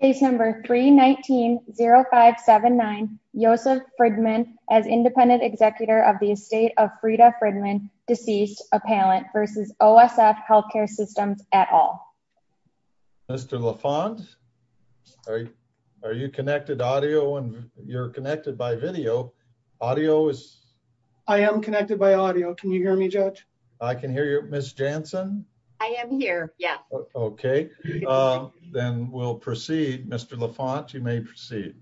Case number 319-0579, Joseph Fridman as independent executor of the estate of Frida Fridman, deceased appellant versus OSF Healthcare Systems et al. Mr. LaFont, are you connected audio and you're connected by video. Audio is... I am connected by audio. Can you hear me, Judge? I can hear you. Ms. Jansen? I am here, yeah. Okay, then we'll proceed. Mr. LaFont, you may proceed.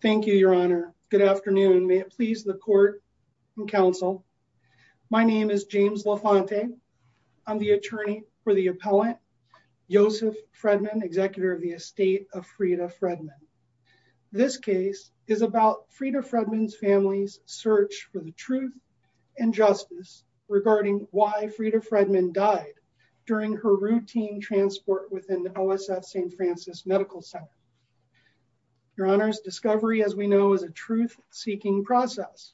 Thank you, Your Honor. Good afternoon. May it please the court and counsel. My name is James LaFontaine. I'm the attorney for the appellant, Joseph Fridman, executor of the estate of Frida Fridman. This case is about Frida Fridman's family's search for the truth and justice regarding why Frida Fridman died during her routine transport within the OSF St. Francis Medical Center. Your Honor's discovery, as we know, is a truth-seeking process.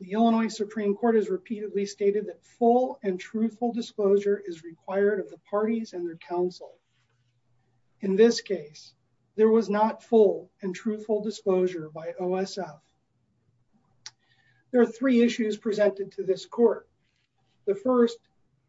The Illinois Supreme Court has repeatedly stated that full and truthful disclosure is required of the parties and their counsel. In this case, there was not full and truthful disclosure by OSF. There are three issues presented to this court. The first,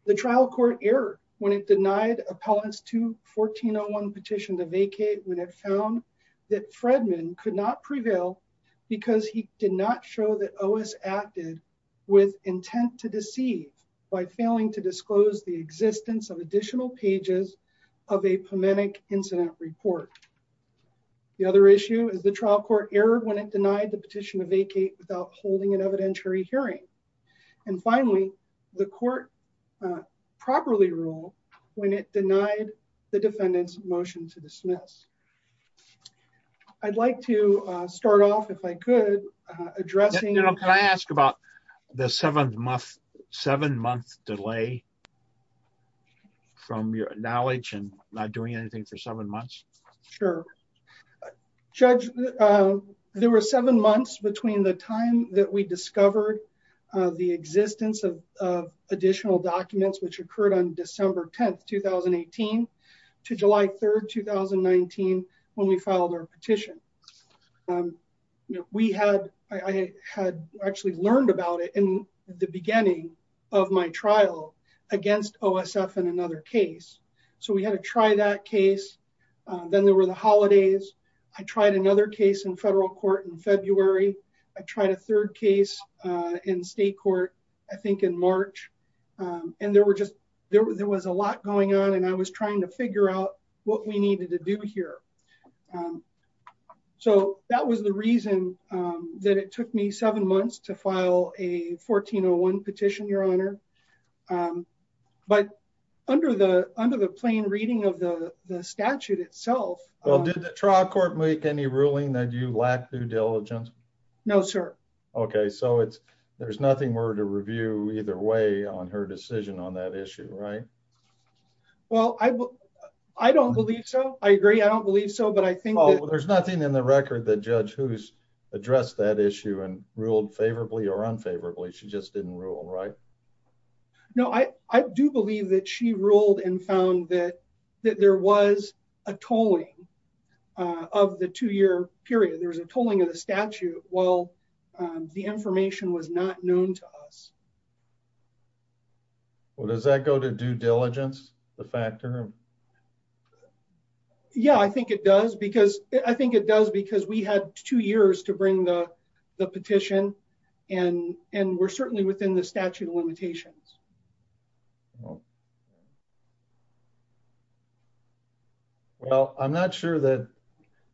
the trial court error when it denied Appellant's 2-1401 petition to vacate when it found that Fridman could not prevail because he did not show that OSF acted with intent to deceive by failing to disclose the existence of additional pages of a pomanent incident report. The other issue is the trial court error when it denied the petition to vacate without holding an evidentiary hearing. And finally, the court properly ruled when it denied the defendant's motion to dismiss. I'd like to start off, if I could, addressing... Your Honor, can I ask about the seven-month delay from your knowledge and not doing anything for seven months? Sure. Judge, there were seven months between the time that we discovered the existence of additional documents, which occurred on December 10, 2018, to July 3, 2019, when we filed our petition. We had... I had actually learned about it in the beginning of my trial against OSF in February. Then there were the holidays. I tried another case in federal court in February. I tried a third case in state court, I think, in March. And there were just... There was a lot going on, and I was trying to figure out what we needed to do here. So that was the reason that it took me seven months to file a 1401 petition, Your Honor. But under the plain reading of the statute itself... Well, did the trial court make any ruling that you lack due diligence? No, sir. Okay. So there's nothing more to review either way on her decision on that issue, right? Well, I don't believe so. I agree. I don't believe so, but I think that... There's nothing in the record that Judge Hoos addressed that issue and ruled favorably or wrongly, right? No, I do believe that she ruled and found that there was a tolling of the two-year period. There was a tolling of the statute while the information was not known to us. Well, does that go to due diligence, the factor? Yeah, I think it does because... I think it does because we had two years to bring the statute of limitations. Well, I'm not sure that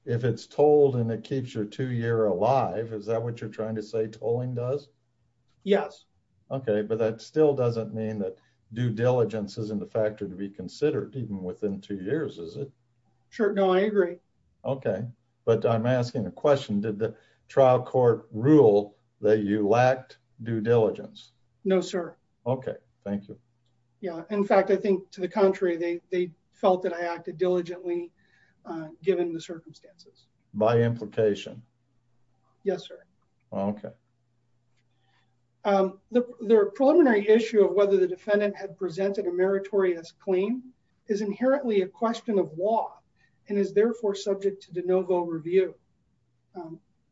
if it's tolled and it keeps your two-year alive, is that what you're trying to say tolling does? Yes. Okay. But that still doesn't mean that due diligence isn't a factor to be considered even within two years, is it? Sure. No, I agree. Okay. But I'm asking a question. Did the trial court rule that you lacked due diligence? No, sir. Okay. Thank you. Yeah. In fact, I think to the contrary, they felt that I acted diligently given the circumstances. By implication? Yes, sir. Okay. The preliminary issue of whether the defendant had presented a meritorious claim is inherently a question of law and is therefore subject to de novo review.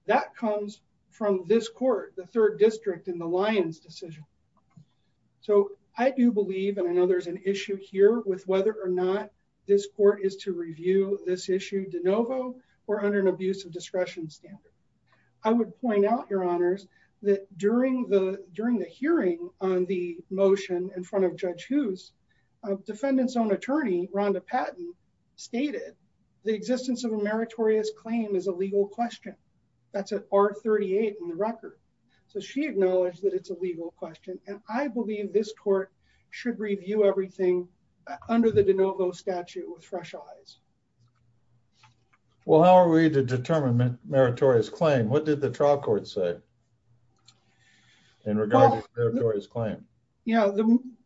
That comes from this court, the third district in the Lyons decision. So I do believe, and I know there's an issue here with whether or not this court is to review this issue de novo or under an abuse of discretion standard. I would point out, Your Honors, that during the hearing on the motion in front of Judge Hoos, defendant's own attorney, Rhonda Patton, stated the existence of a meritorious claim is a legal question. That's an R38 in the record. So she acknowledged that it's a legal question. And I believe this court should review everything under the de novo statute with fresh eyes. Well, how are we to determine meritorious claim? What did the trial court say in regard to meritorious claim? Yeah.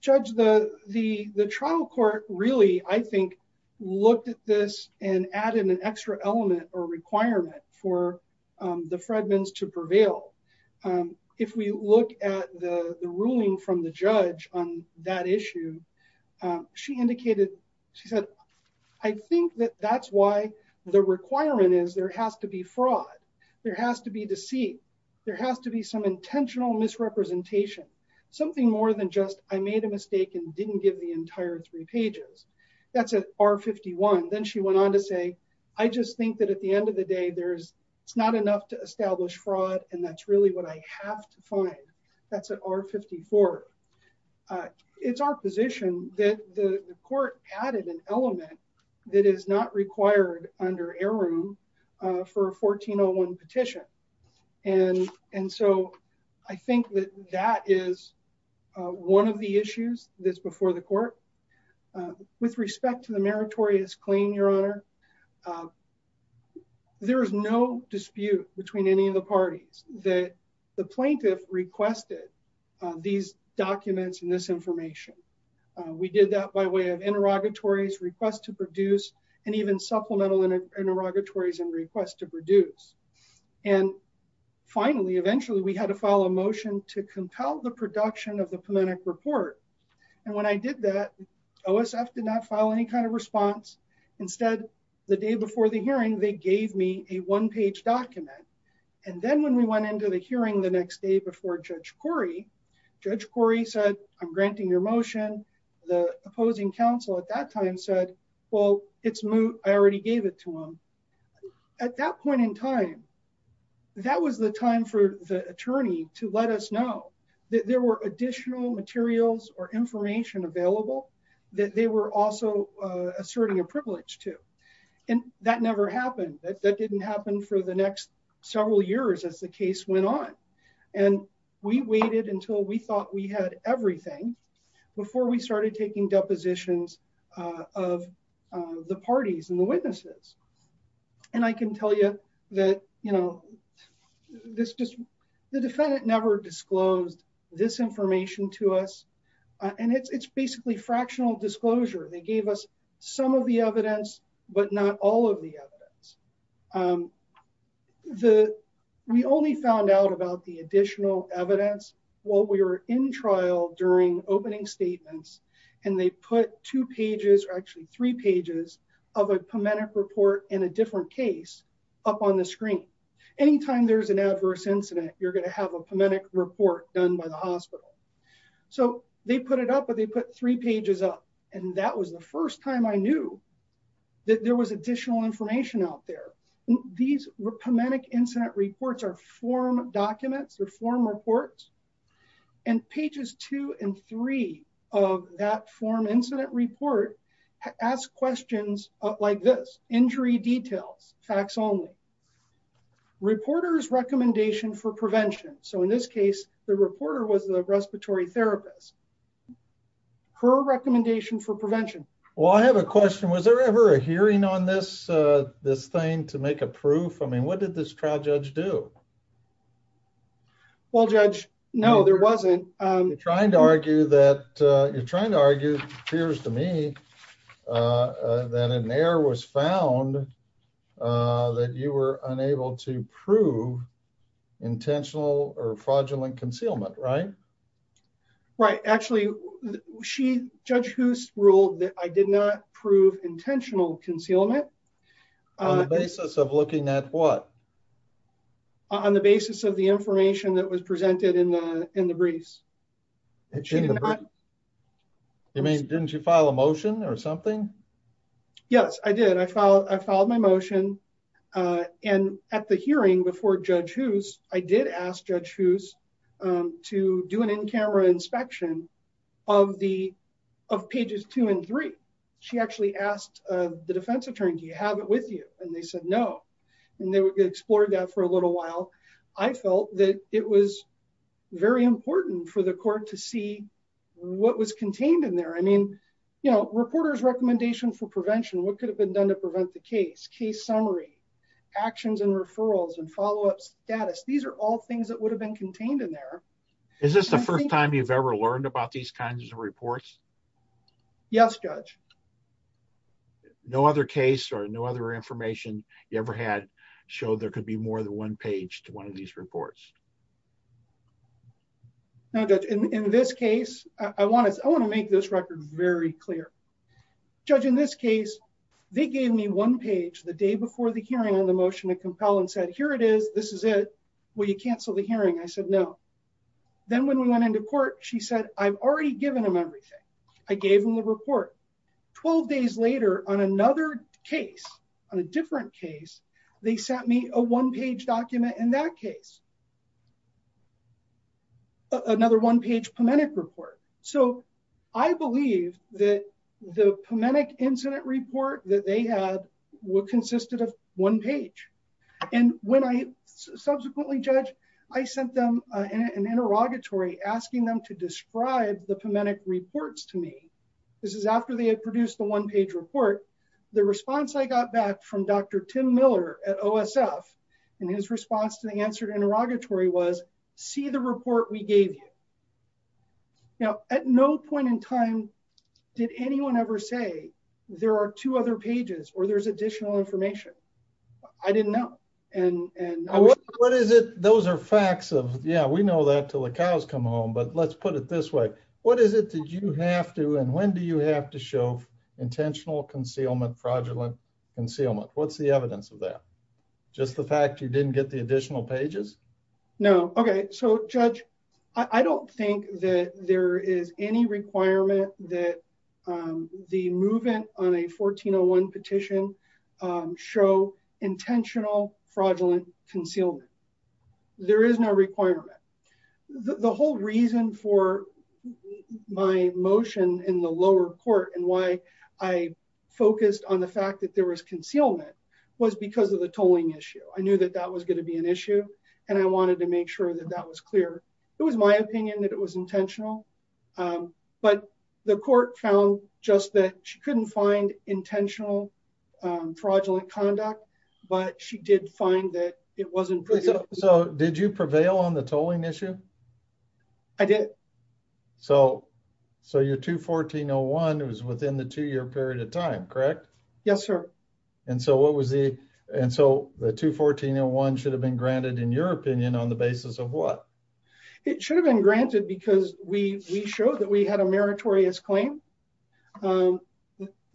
Judge, the trial court really, I think, looked at this and added an extra element or requirement for the Fredmans to prevail. If we look at the ruling from the judge on that issue, she indicated, she said, I think that that's why the requirement is there has to be fraud. There has to be deceit. There has to be some intentional misrepresentation, something more than just I made a mistake and didn't give the entire three pages. That's an R51. Then she went on to say, I just think that at the end of the day, it's not enough to establish fraud. And that's really what I have to find. That's an R54. It's our position that the court added an element that is not required under air room for a 1401 petition. And so I think that that is one of the issues that's before the court. With respect to the meritorious claim, Your Honor, there is no dispute between any of the parties that the plaintiff requested these documents and this information. We did that by way of interrogatories, request to produce, and even supplemental interrogatories and request to produce. And finally, eventually, we had to file a motion to compel the production of the Palenik report. And when I did that, OSF did not file any kind of response. Instead, the day before the hearing, they gave me a one-page document. And then when we went into the hearing the next day before Judge Corey, Judge Corey said, I'm granting your motion. The opposing counsel at that time said, well, it's moot. I already gave it to him. At that point in time, that was the time for the attorney to let us know that there were additional materials or information available that they were also asserting a privilege to. And that never happened. That didn't happen for the next several years as the case went on. And we waited until we thought we had everything before we started taking depositions of the parties and the witnesses. And I can tell you that the defendant never disclosed this information to us. And it's basically fractional disclosure. They gave us some of the evidence, but not all of the evidence. We only found out about the additional evidence while we were in trial during opening statements. And they put two pages or actually three pages of a Palenik report in a different case up on the screen. Anytime there's an adverse incident, you're going to have a Palenik report done by the hospital. So they put it up, but they put three pages up. And that was the first time I knew that there was additional information out there. These Palenik incident reports are form documents or form reports. And pages two and three of that form incident report ask questions like this. Injury details, facts only. Reporters recommendation for prevention. So in this case, the reporter was the respiratory therapist. Her recommendation for prevention. Well, I have a question. Was there ever a hearing on this thing to make a proof? I mean, what did this trial judge do? Well, Judge, no, there wasn't. You're trying to argue that you're trying to argue appears to me that an error was found that you were unable to prove intentional or fraudulent concealment, right? Right. Actually, she, Judge Hoost ruled that I did not prove intentional concealment. On the basis of looking at what? On the basis of the information that was presented in the briefs. She did not. I mean, didn't you file a motion or something? Yes, I did. I filed my motion. And at the hearing before Judge Hoost, I did ask Judge Hoost to do an in-camera inspection of pages two and three. She actually asked the defense attorney, do you have it with you? And they said, no. And they explored that for a little while. I felt that it was very important for the court to see what was contained in there. I mean, you know, reporter's recommendation for prevention, what could have been done to prevent the case, case summary, actions and referrals and follow-up status. These are all things that would have been contained in there. Is this the first time you've ever learned about these kinds of reports? Yes, Judge. No other case or no other information you ever had showed there could be more than one page to one of these reports. In this case, I want to make this record very clear. Judge, in this case, they gave me one page the day before the hearing on the motion to compel and said, here it is, this is it, will you cancel the hearing? I said, no. Then when we went into court, she said, I've already given them everything. I gave them the report. 12 days later on another case, on a different case, they sent me a one-page document in that case. Another one-page PEMENIC report. So I believe that the PEMENIC incident report that they had consisted of one page. And when I subsequently, Judge, I sent them an interrogatory asking them to describe the PEMENIC reports to me. This is after they had produced the one-page report. The response I got back from Dr. Tim Miller at OSF and his response to the answer interrogatory was, see the report we gave you. Now, at no point in time did anyone ever say, there are two other pages or there's additional information. I didn't know. What is it? Those are facts of, yeah, we know that till the cows come home, but let's put it this way. What is it that you have to, and when do you have to show intentional concealment, fraudulent concealment? What's the evidence of that? Just the fact you didn't get the additional pages? No. Okay. So Judge, I don't think that there is any requirement that the movement on a 1401 petition show intentional fraudulent concealment. There is no requirement. The whole reason for my motion in the lower court and why I focused on the fact that there was concealment was because of the tolling issue. I knew that that was going to be an issue and I wanted to make sure that that was clear. It was my opinion that it was intentional, but the court found just that she couldn't find intentional fraudulent conduct, but she did find that it wasn't. So did you prevail on the tolling issue? I did. So your 214-01, it was within the two-year period of time, correct? Yes, sir. And so what was the, and so the 214-01 should have been granted in your opinion on the basis of what? It should have been granted because we showed that we had a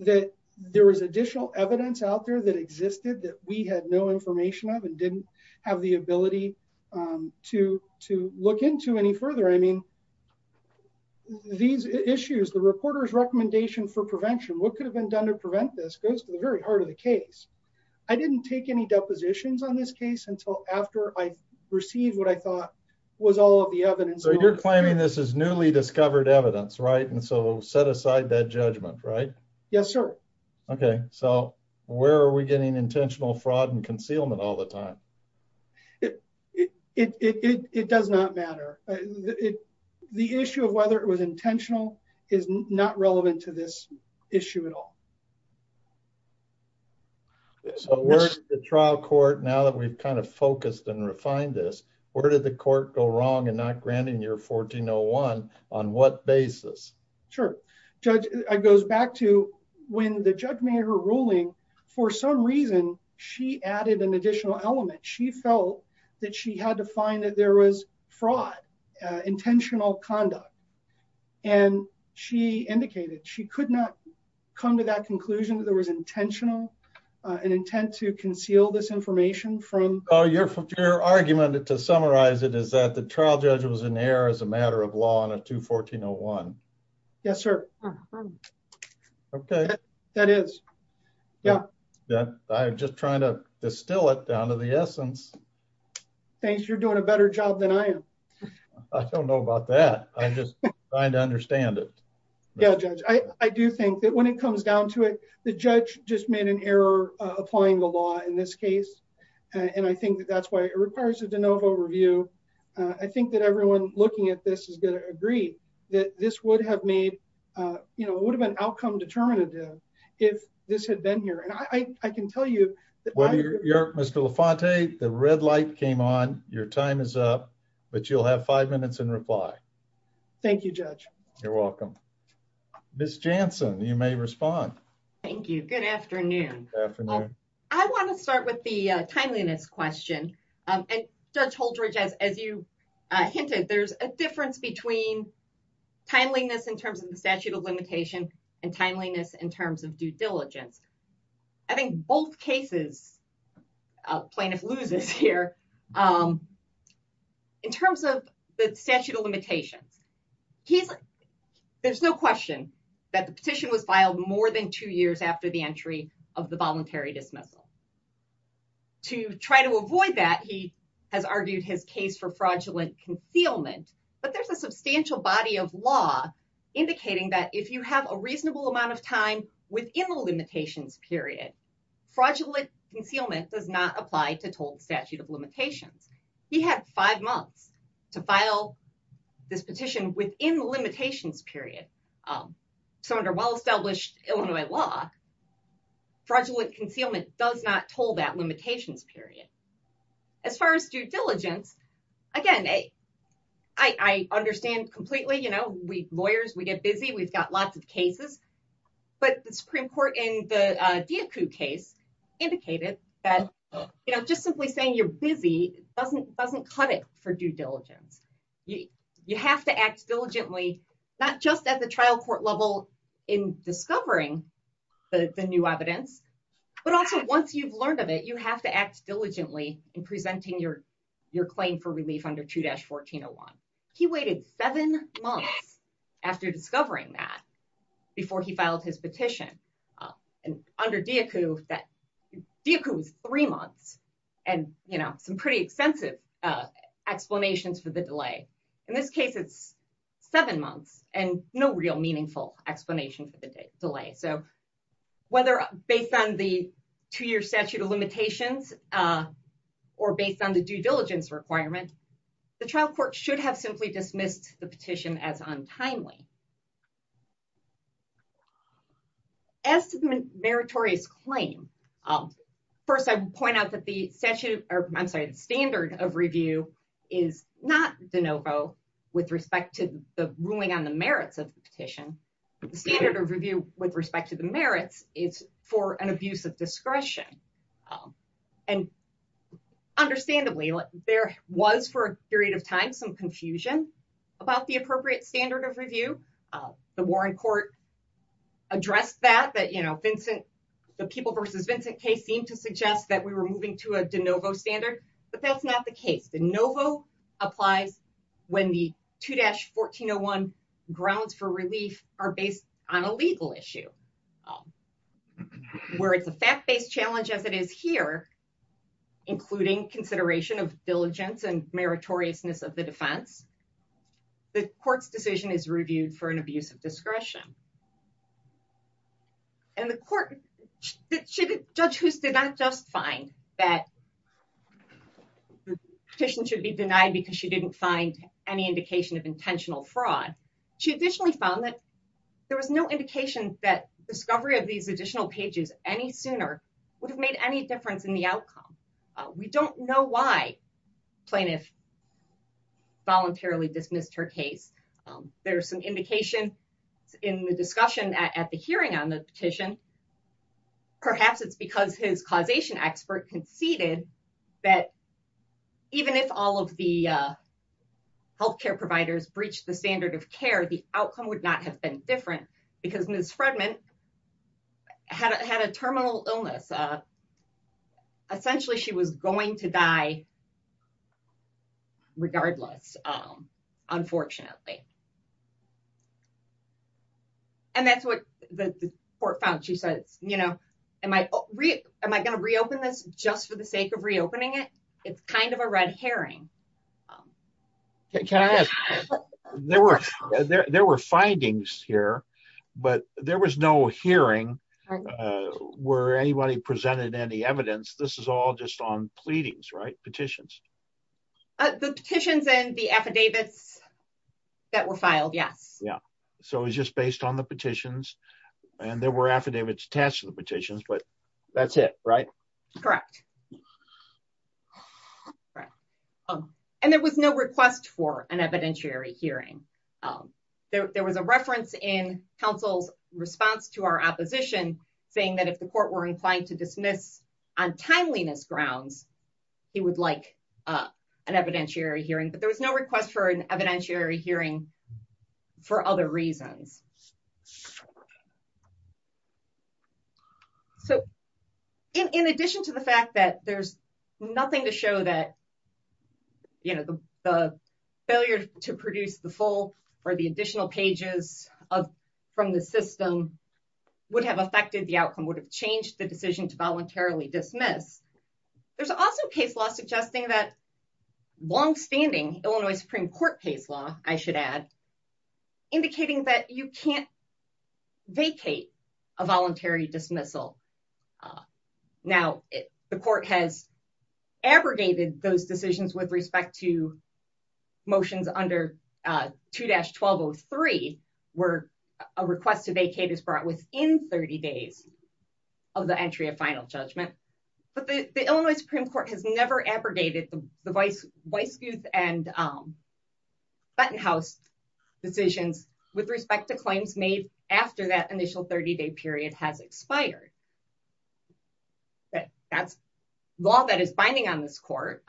that there was additional evidence out there that existed that we had no information of and didn't have the ability to look into any further. I mean, these issues, the reporter's recommendation for prevention, what could have been done to prevent this goes to the very heart of the case. I didn't take any depositions on this case until after I received what I thought was all of the evidence. So you're claiming this is newly discovered evidence, right? And so set aside that judgment, right? Yes, sir. Okay. So where are we getting intentional fraud and concealment all the time? It does not matter. The issue of whether it was intentional is not relevant to this issue at all. So where's the trial court now that we've kind of focused and refined this, where did the court go wrong in not granting your 14-01 on what basis? Sure. Judge, it goes back to when the judge made her ruling, for some reason, she added an additional element. She felt that she had to find that there was fraud, intentional conduct. And she indicated she could not come to that conclusion that there was intentional, an intent to conceal this information from... Oh, your argument to summarize it is that trial judge was in error as a matter of law on a 2-14-01. Yes, sir. Okay. That is. Yeah. I'm just trying to distill it down to the essence. Thanks. You're doing a better job than I am. I don't know about that. I'm just trying to understand it. Yeah, Judge. I do think that when it comes down to it, the judge just made an error applying the law in this case. And I think that's why it requires a de novo review. I think that everyone looking at this is going to agree that this would have made, you know, it would have been outcome determinative if this had been here. And I can tell you... Mr. LaFonte, the red light came on. Your time is up, but you'll have five minutes in reply. Thank you, Judge. You're welcome. Ms. Jansen, you may respond. Thank you. Good afternoon. I want to start with the timeliness question. And Judge Holdridge, as you hinted, there's a difference between timeliness in terms of the statute of limitation and timeliness in terms of due diligence. I think both cases plaintiff loses here in terms of the statute of limitations. He's... There's no question that the petition was filed more than two years after the entry of the voluntary dismissal. To try to avoid that, he has argued his case for fraudulent concealment, but there's a substantial body of law indicating that if you have a reasonable amount of time within the limitations period, fraudulent concealment does not apply to total statute of limitations. He had five months to file this petition within the limitations period. So under well-established Illinois law, fraudulent concealment does not toll that limitations period. As far as due diligence, again, I understand completely. We lawyers, we get busy, we've got lots of cases, but the Supreme Court in the Diakou case indicated that just simply saying you're busy doesn't cut it for due diligence. You have to act diligently, not just at the trial court level in discovering the new evidence, but also once you've learned of it, you have to act diligently in presenting your claim for relief under 2-1401. He waited seven months after discovering that before he filed his petition. And under Diakou, Diakou was three months and some pretty extensive explanations for the delay. In this case, it's seven months and no real meaningful explanation for the delay. So whether based on the two-year statute of limitations or based on the due diligence requirement, the trial court should have simply dismissed the petition as untimely. As to the meritorious claim, first, I would point out that the statute, I'm sorry, the standard of review is not de novo with respect to the ruling on the merits of the petition. The standard of review with respect to the merits is for an abuse of discretion. And understandably, there was for a confusion about the appropriate standard of review. The Warren court addressed that, that the People v. Vincent case seemed to suggest that we were moving to a de novo standard, but that's not the case. De novo applies when the 2-1401 grounds for relief are based on a legal issue. Where it's a fact-based challenge as it is here, including consideration of diligence and meritoriousness of the defense, the court's decision is reviewed for an abuse of discretion. And the court, Judge Hoos did not just find that the petition should be denied because she didn't find any indication of intentional fraud. She additionally found that there was no indication that discovery of these additional pages any sooner would have made any difference in the outcome. We don't know why plaintiff voluntarily dismissed her case. There's some indication in the discussion at the hearing on the petition. Perhaps it's because his causation expert conceded that even if all of the healthcare providers breached the standard of care, the outcome would not have been different because Ms. Fredman had a terminal illness. Essentially she was going to die regardless, unfortunately. And that's what the court found. She says, you know, am I going to reopen this just for the sake of reopening it? It's kind of a red herring. Can I ask, there were findings here, but there was no hearing where anybody presented any evidence. This is all just on pleadings, right? Petitions. The petitions and the affidavits that were filed, yes. Yeah. So it was just based on the petitions and there were affidavits attached to the petitions, but that's it, right? Correct. And there was no request for an evidentiary hearing. There was a reference in counsel's response to our opposition saying that if the court were inclined to dismiss on timeliness grounds, he would like an evidentiary hearing, but there was no request for an evidentiary hearing for other reasons. So in addition to the fact that there's nothing to show that, you know, the failure to produce the full or the additional pages from the system would have affected the outcome, would have changed the decision to voluntarily dismiss, there's also case law suggesting that longstanding Illinois Supreme Court case law, I should add, indicating that you can't dismiss a case can't vacate a voluntary dismissal. Now the court has abrogated those decisions with respect to motions under 2-1203 where a request to vacate is brought within 30 days of the entry of final judgment. But the Illinois Supreme Court has never abrogated the Weissguth and after that initial 30-day period has expired. But that's law that is binding on this court.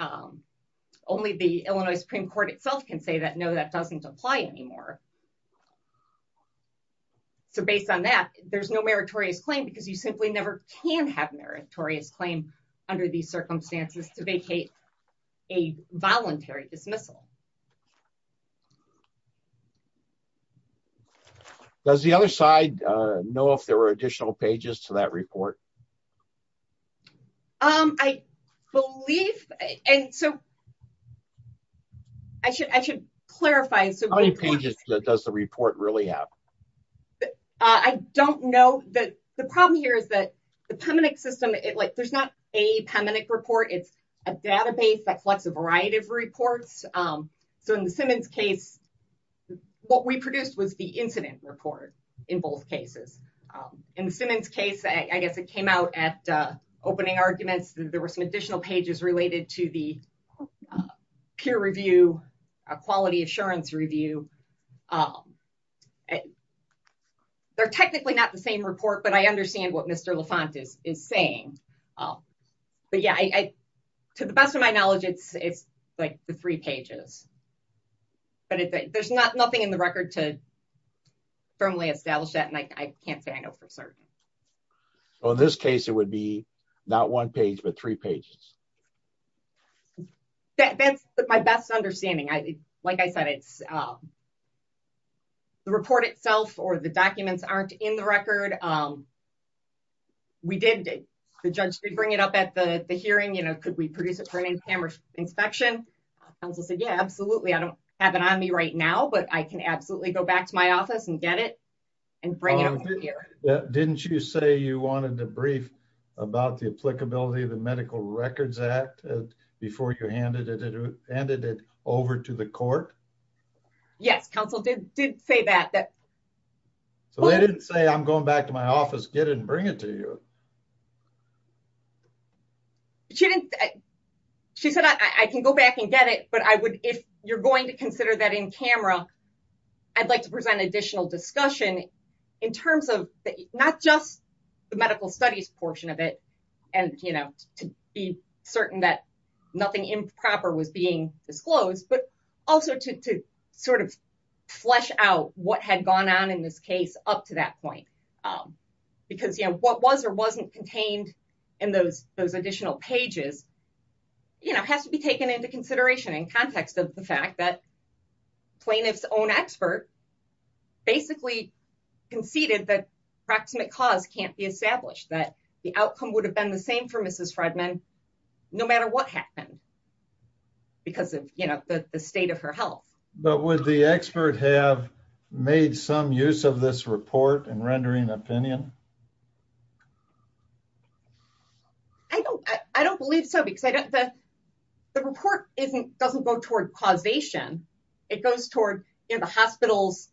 Only the Illinois Supreme Court itself can say that no, that doesn't apply anymore. So based on that, there's no meritorious claim because you simply never can have meritorious claim under these circumstances to vacate a voluntary dismissal. Does the other side know if there were additional pages to that report? I believe, and so I should clarify. How many pages does the report really have? I don't know. The problem here is that the PEMINIC system, like there's not a PEMINIC report, it's a database that collects a variety of reports. So in the Simmons case, what we produced was the incident report in both cases. In the Simmons case, I guess it came out at opening arguments, there were some additional pages related to the peer review, a quality assurance review. They're technically not the same report, but I understand what Mr. LaFont is saying. Oh, but yeah, to the best of my knowledge, it's like the three pages, but there's nothing in the record to firmly establish that. And I can't say I know for certain. So in this case, it would be not one page, but three pages. That's my best understanding. Like I said, the report itself or the documents aren't in the PEMINIC report, but I can absolutely go back to my office and get it and bring it up here. Didn't you say you wanted to brief about the applicability of the Medical Records Act before you handed it over to the court? Yes, counsel did say that. So they didn't say, I'm going back to my office, get it and bring it to you. But she said, I can go back and get it, but if you're going to consider that in camera, I'd like to present additional discussion in terms of not just the medical studies portion of it, and to be certain that nothing improper was being disclosed, but also to sort of flesh out what had gone on in this case up to that point. Because what was or wasn't contained in those additional pages has to be taken into consideration in context of the fact that plaintiff's own expert basically conceded that approximate cause can't be established, that the outcome would have been the same for Mrs. Fredman, no matter what happened, because of the state of her health. But would the expert have made some use of this report in rendering opinion? I don't believe so, because the report doesn't go toward causation, it goes toward the hospital's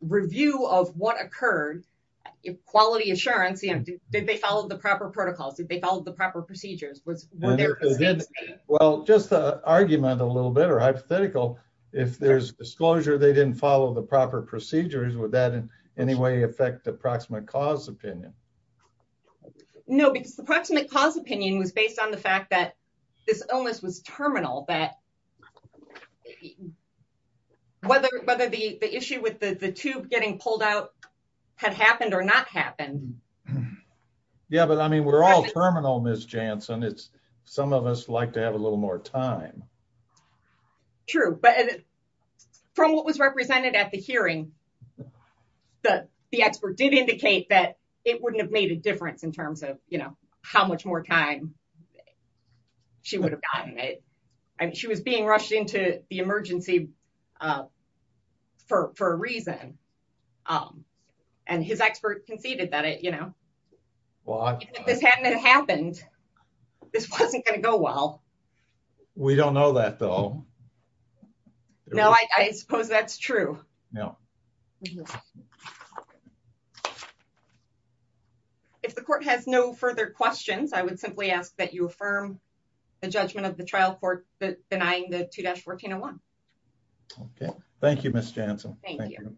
review of what occurred, quality assurance, did they follow the proper protocols, did they follow the proper procedures? Well, just the argument a little bit or hypothetical, if there's disclosure, they didn't follow the proper procedures, would that in any way affect the approximate cause opinion? No, because the approximate cause opinion was based on the fact that this illness was terminal, that whether the issue with the tube getting pulled out had happened or not happened. Yeah, but I mean, we're all terminal, Ms. Janssen, some of us like to have a little more time. True, but from what was represented at the hearing, the expert did indicate that it wouldn't have made a difference in terms of how much more time she would have gotten it. She was being rushed into the emergency for a reason. And his expert conceded that even if this hadn't happened, this wasn't going to go well. We don't know that though. No, I suppose that's true. Mm-hmm. If the court has no further questions, I would simply ask that you affirm the judgment of the trial court denying the 2-1401. Okay, thank you, Ms. Janssen. Thank you.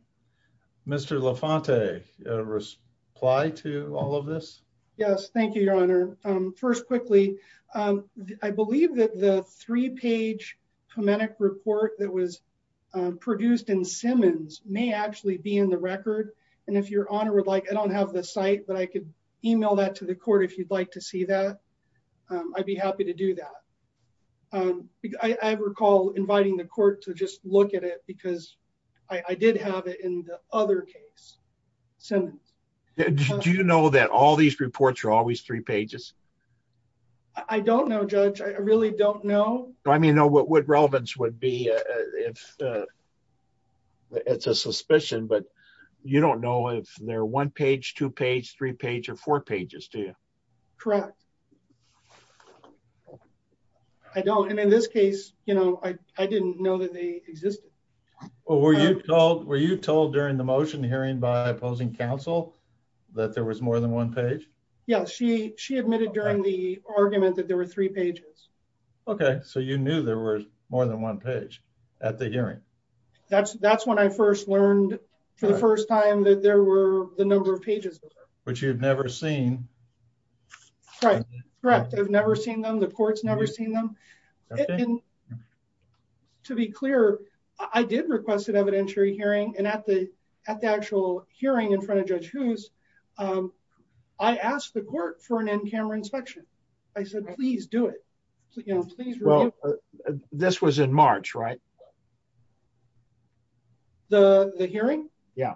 Mr. Lafonte, a reply to all of this? Yes, thank you, Your Honor. First, quickly, I believe that the three-page pneumatic report that was produced in Simmons may actually be in the record. And if Your Honor would like, I don't have the site, but I could email that to the court if you'd like to see that. I'd be happy to do that. I recall inviting the court to just look at it because I did have it in the other case, Simmons. Do you know that all these reports are always three pages? I don't know, Judge. I really don't know. I mean, what relevance would be if it's a suspicion, but you don't know if they're one page, two page, three page, or four pages, do you? Correct. I don't. And in this case, I didn't know that they existed. Were you told during the motion hearing by opposing counsel that there was more than one page? Yeah, she admitted during the argument that there were three pages. Okay, so you knew there was more than one page at the hearing. That's when I first learned for the first time that there were the number of pages. Which you've never seen. Right, correct. I've never seen them. The court's never seen them. To be clear, I did request an evidentiary hearing, and at the actual hearing in front of Judge Hoos, I asked the court for an in-camera inspection. I said, please do it. Well, this was in March, right? The hearing? Yeah.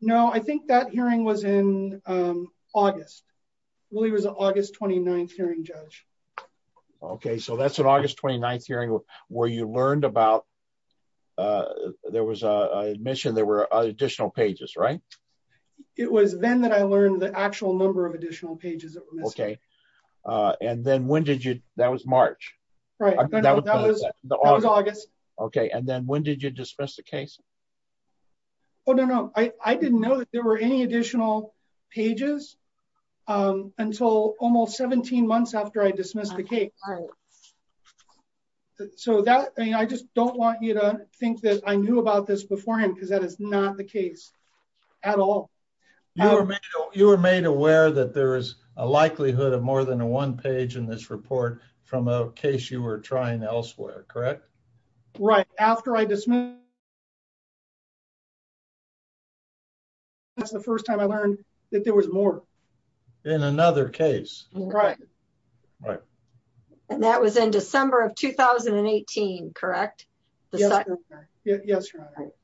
No, I think that hearing was in August. Well, it was an August 29th hearing, Judge. Okay, so that's an August 29th hearing where you learned about there was an admission there were additional pages, right? Okay, and then when did you... That was March, right? No, that was August. Okay, and then when did you dismiss the case? Oh, no, no. I didn't know that there were any additional pages until almost 17 months after I dismissed the case. So, I just don't want you to think that I knew about this beforehand because that is not the case at all. You were made aware that there is a likelihood of more than a one page in this report from a case you were trying elsewhere, correct? Right, after I dismissed... That's the first time I learned that there was more. In another case. Right. Right. And that was in December of 2018, correct? Yes, Your Honor.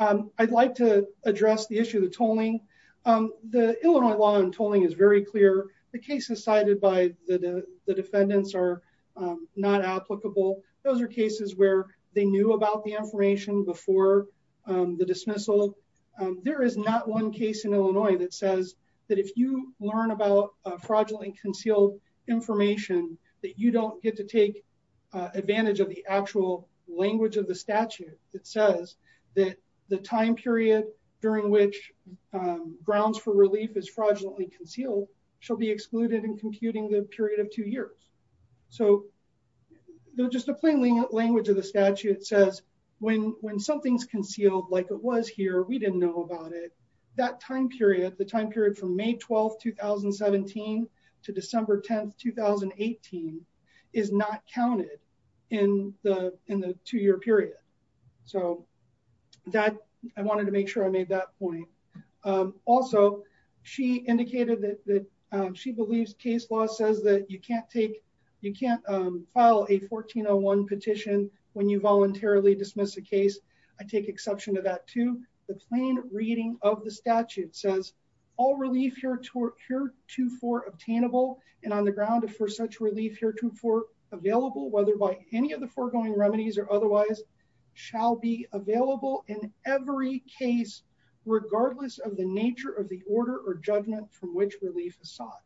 Right. I'd like to address the issue of the tolling. The Illinois law on tolling is very clear. The cases cited by the defendants are not applicable. Those are cases where they knew about the information before the dismissal. There is not one case in Illinois that says that if you learn about fraudulently concealed information that you don't get to take advantage of the actual language of the statute that says that the time period during which grounds for relief is fraudulently concealed shall be excluded in computing the period of two years. So, just a plain language of the statute says when something's concealed like it was here, we didn't know about it. That time period, the time period from May 12, 2017 to December 10, 2018 is not counted in the two year period. So, I wanted to make sure I made that point. Also, she indicated that she believes case law says that you can't take, you can't file a 1401 petition when you voluntarily dismiss a case. I take exception to that too. The plain reading of the statute says all relief here to for obtainable and on the ground for such relief here to for available whether by any of the foregoing remedies or otherwise shall be available in every case regardless of the nature of the order or judgment from which relief is sought.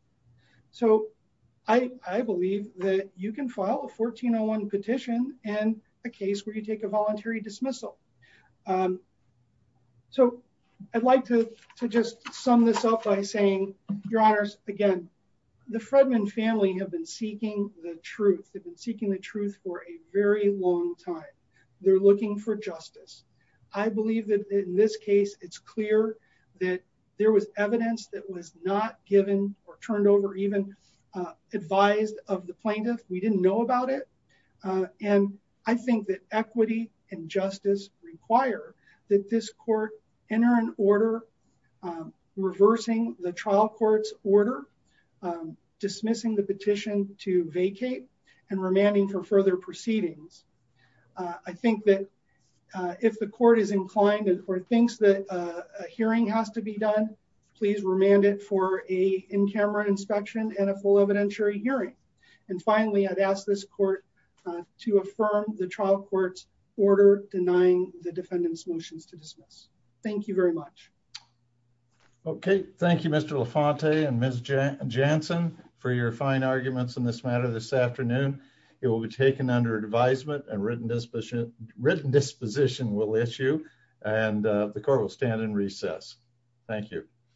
So, I believe that you can file a 1401 petition and a case where you take a voluntary dismissal. So, I'd like to just sum this up by saying, Your Honors, again, the Fredman family have been seeking the truth. They've been seeking the truth for a very long time. They're looking for justice. I believe that in this case, it's clear that there was evidence that was not given or turned over even advised of the plaintiff. We didn't know about it. And I think that equity and justice require that this court enter an order reversing the trial court's order, dismissing the petition to vacate. Remanding for further proceedings. I think that if the court is inclined or thinks that a hearing has to be done, please remand it for a in-camera inspection and a full evidentiary hearing. And finally, I'd ask this court to affirm the trial court's order denying the defendant's motions to dismiss. Thank you very much. Okay. Thank you, Mr. Lafonte and Ms. Jansen for your fine arguments in this matter this afternoon. It will be taken under advisement and written disposition will issue. And the court will stand in recess. Thank you.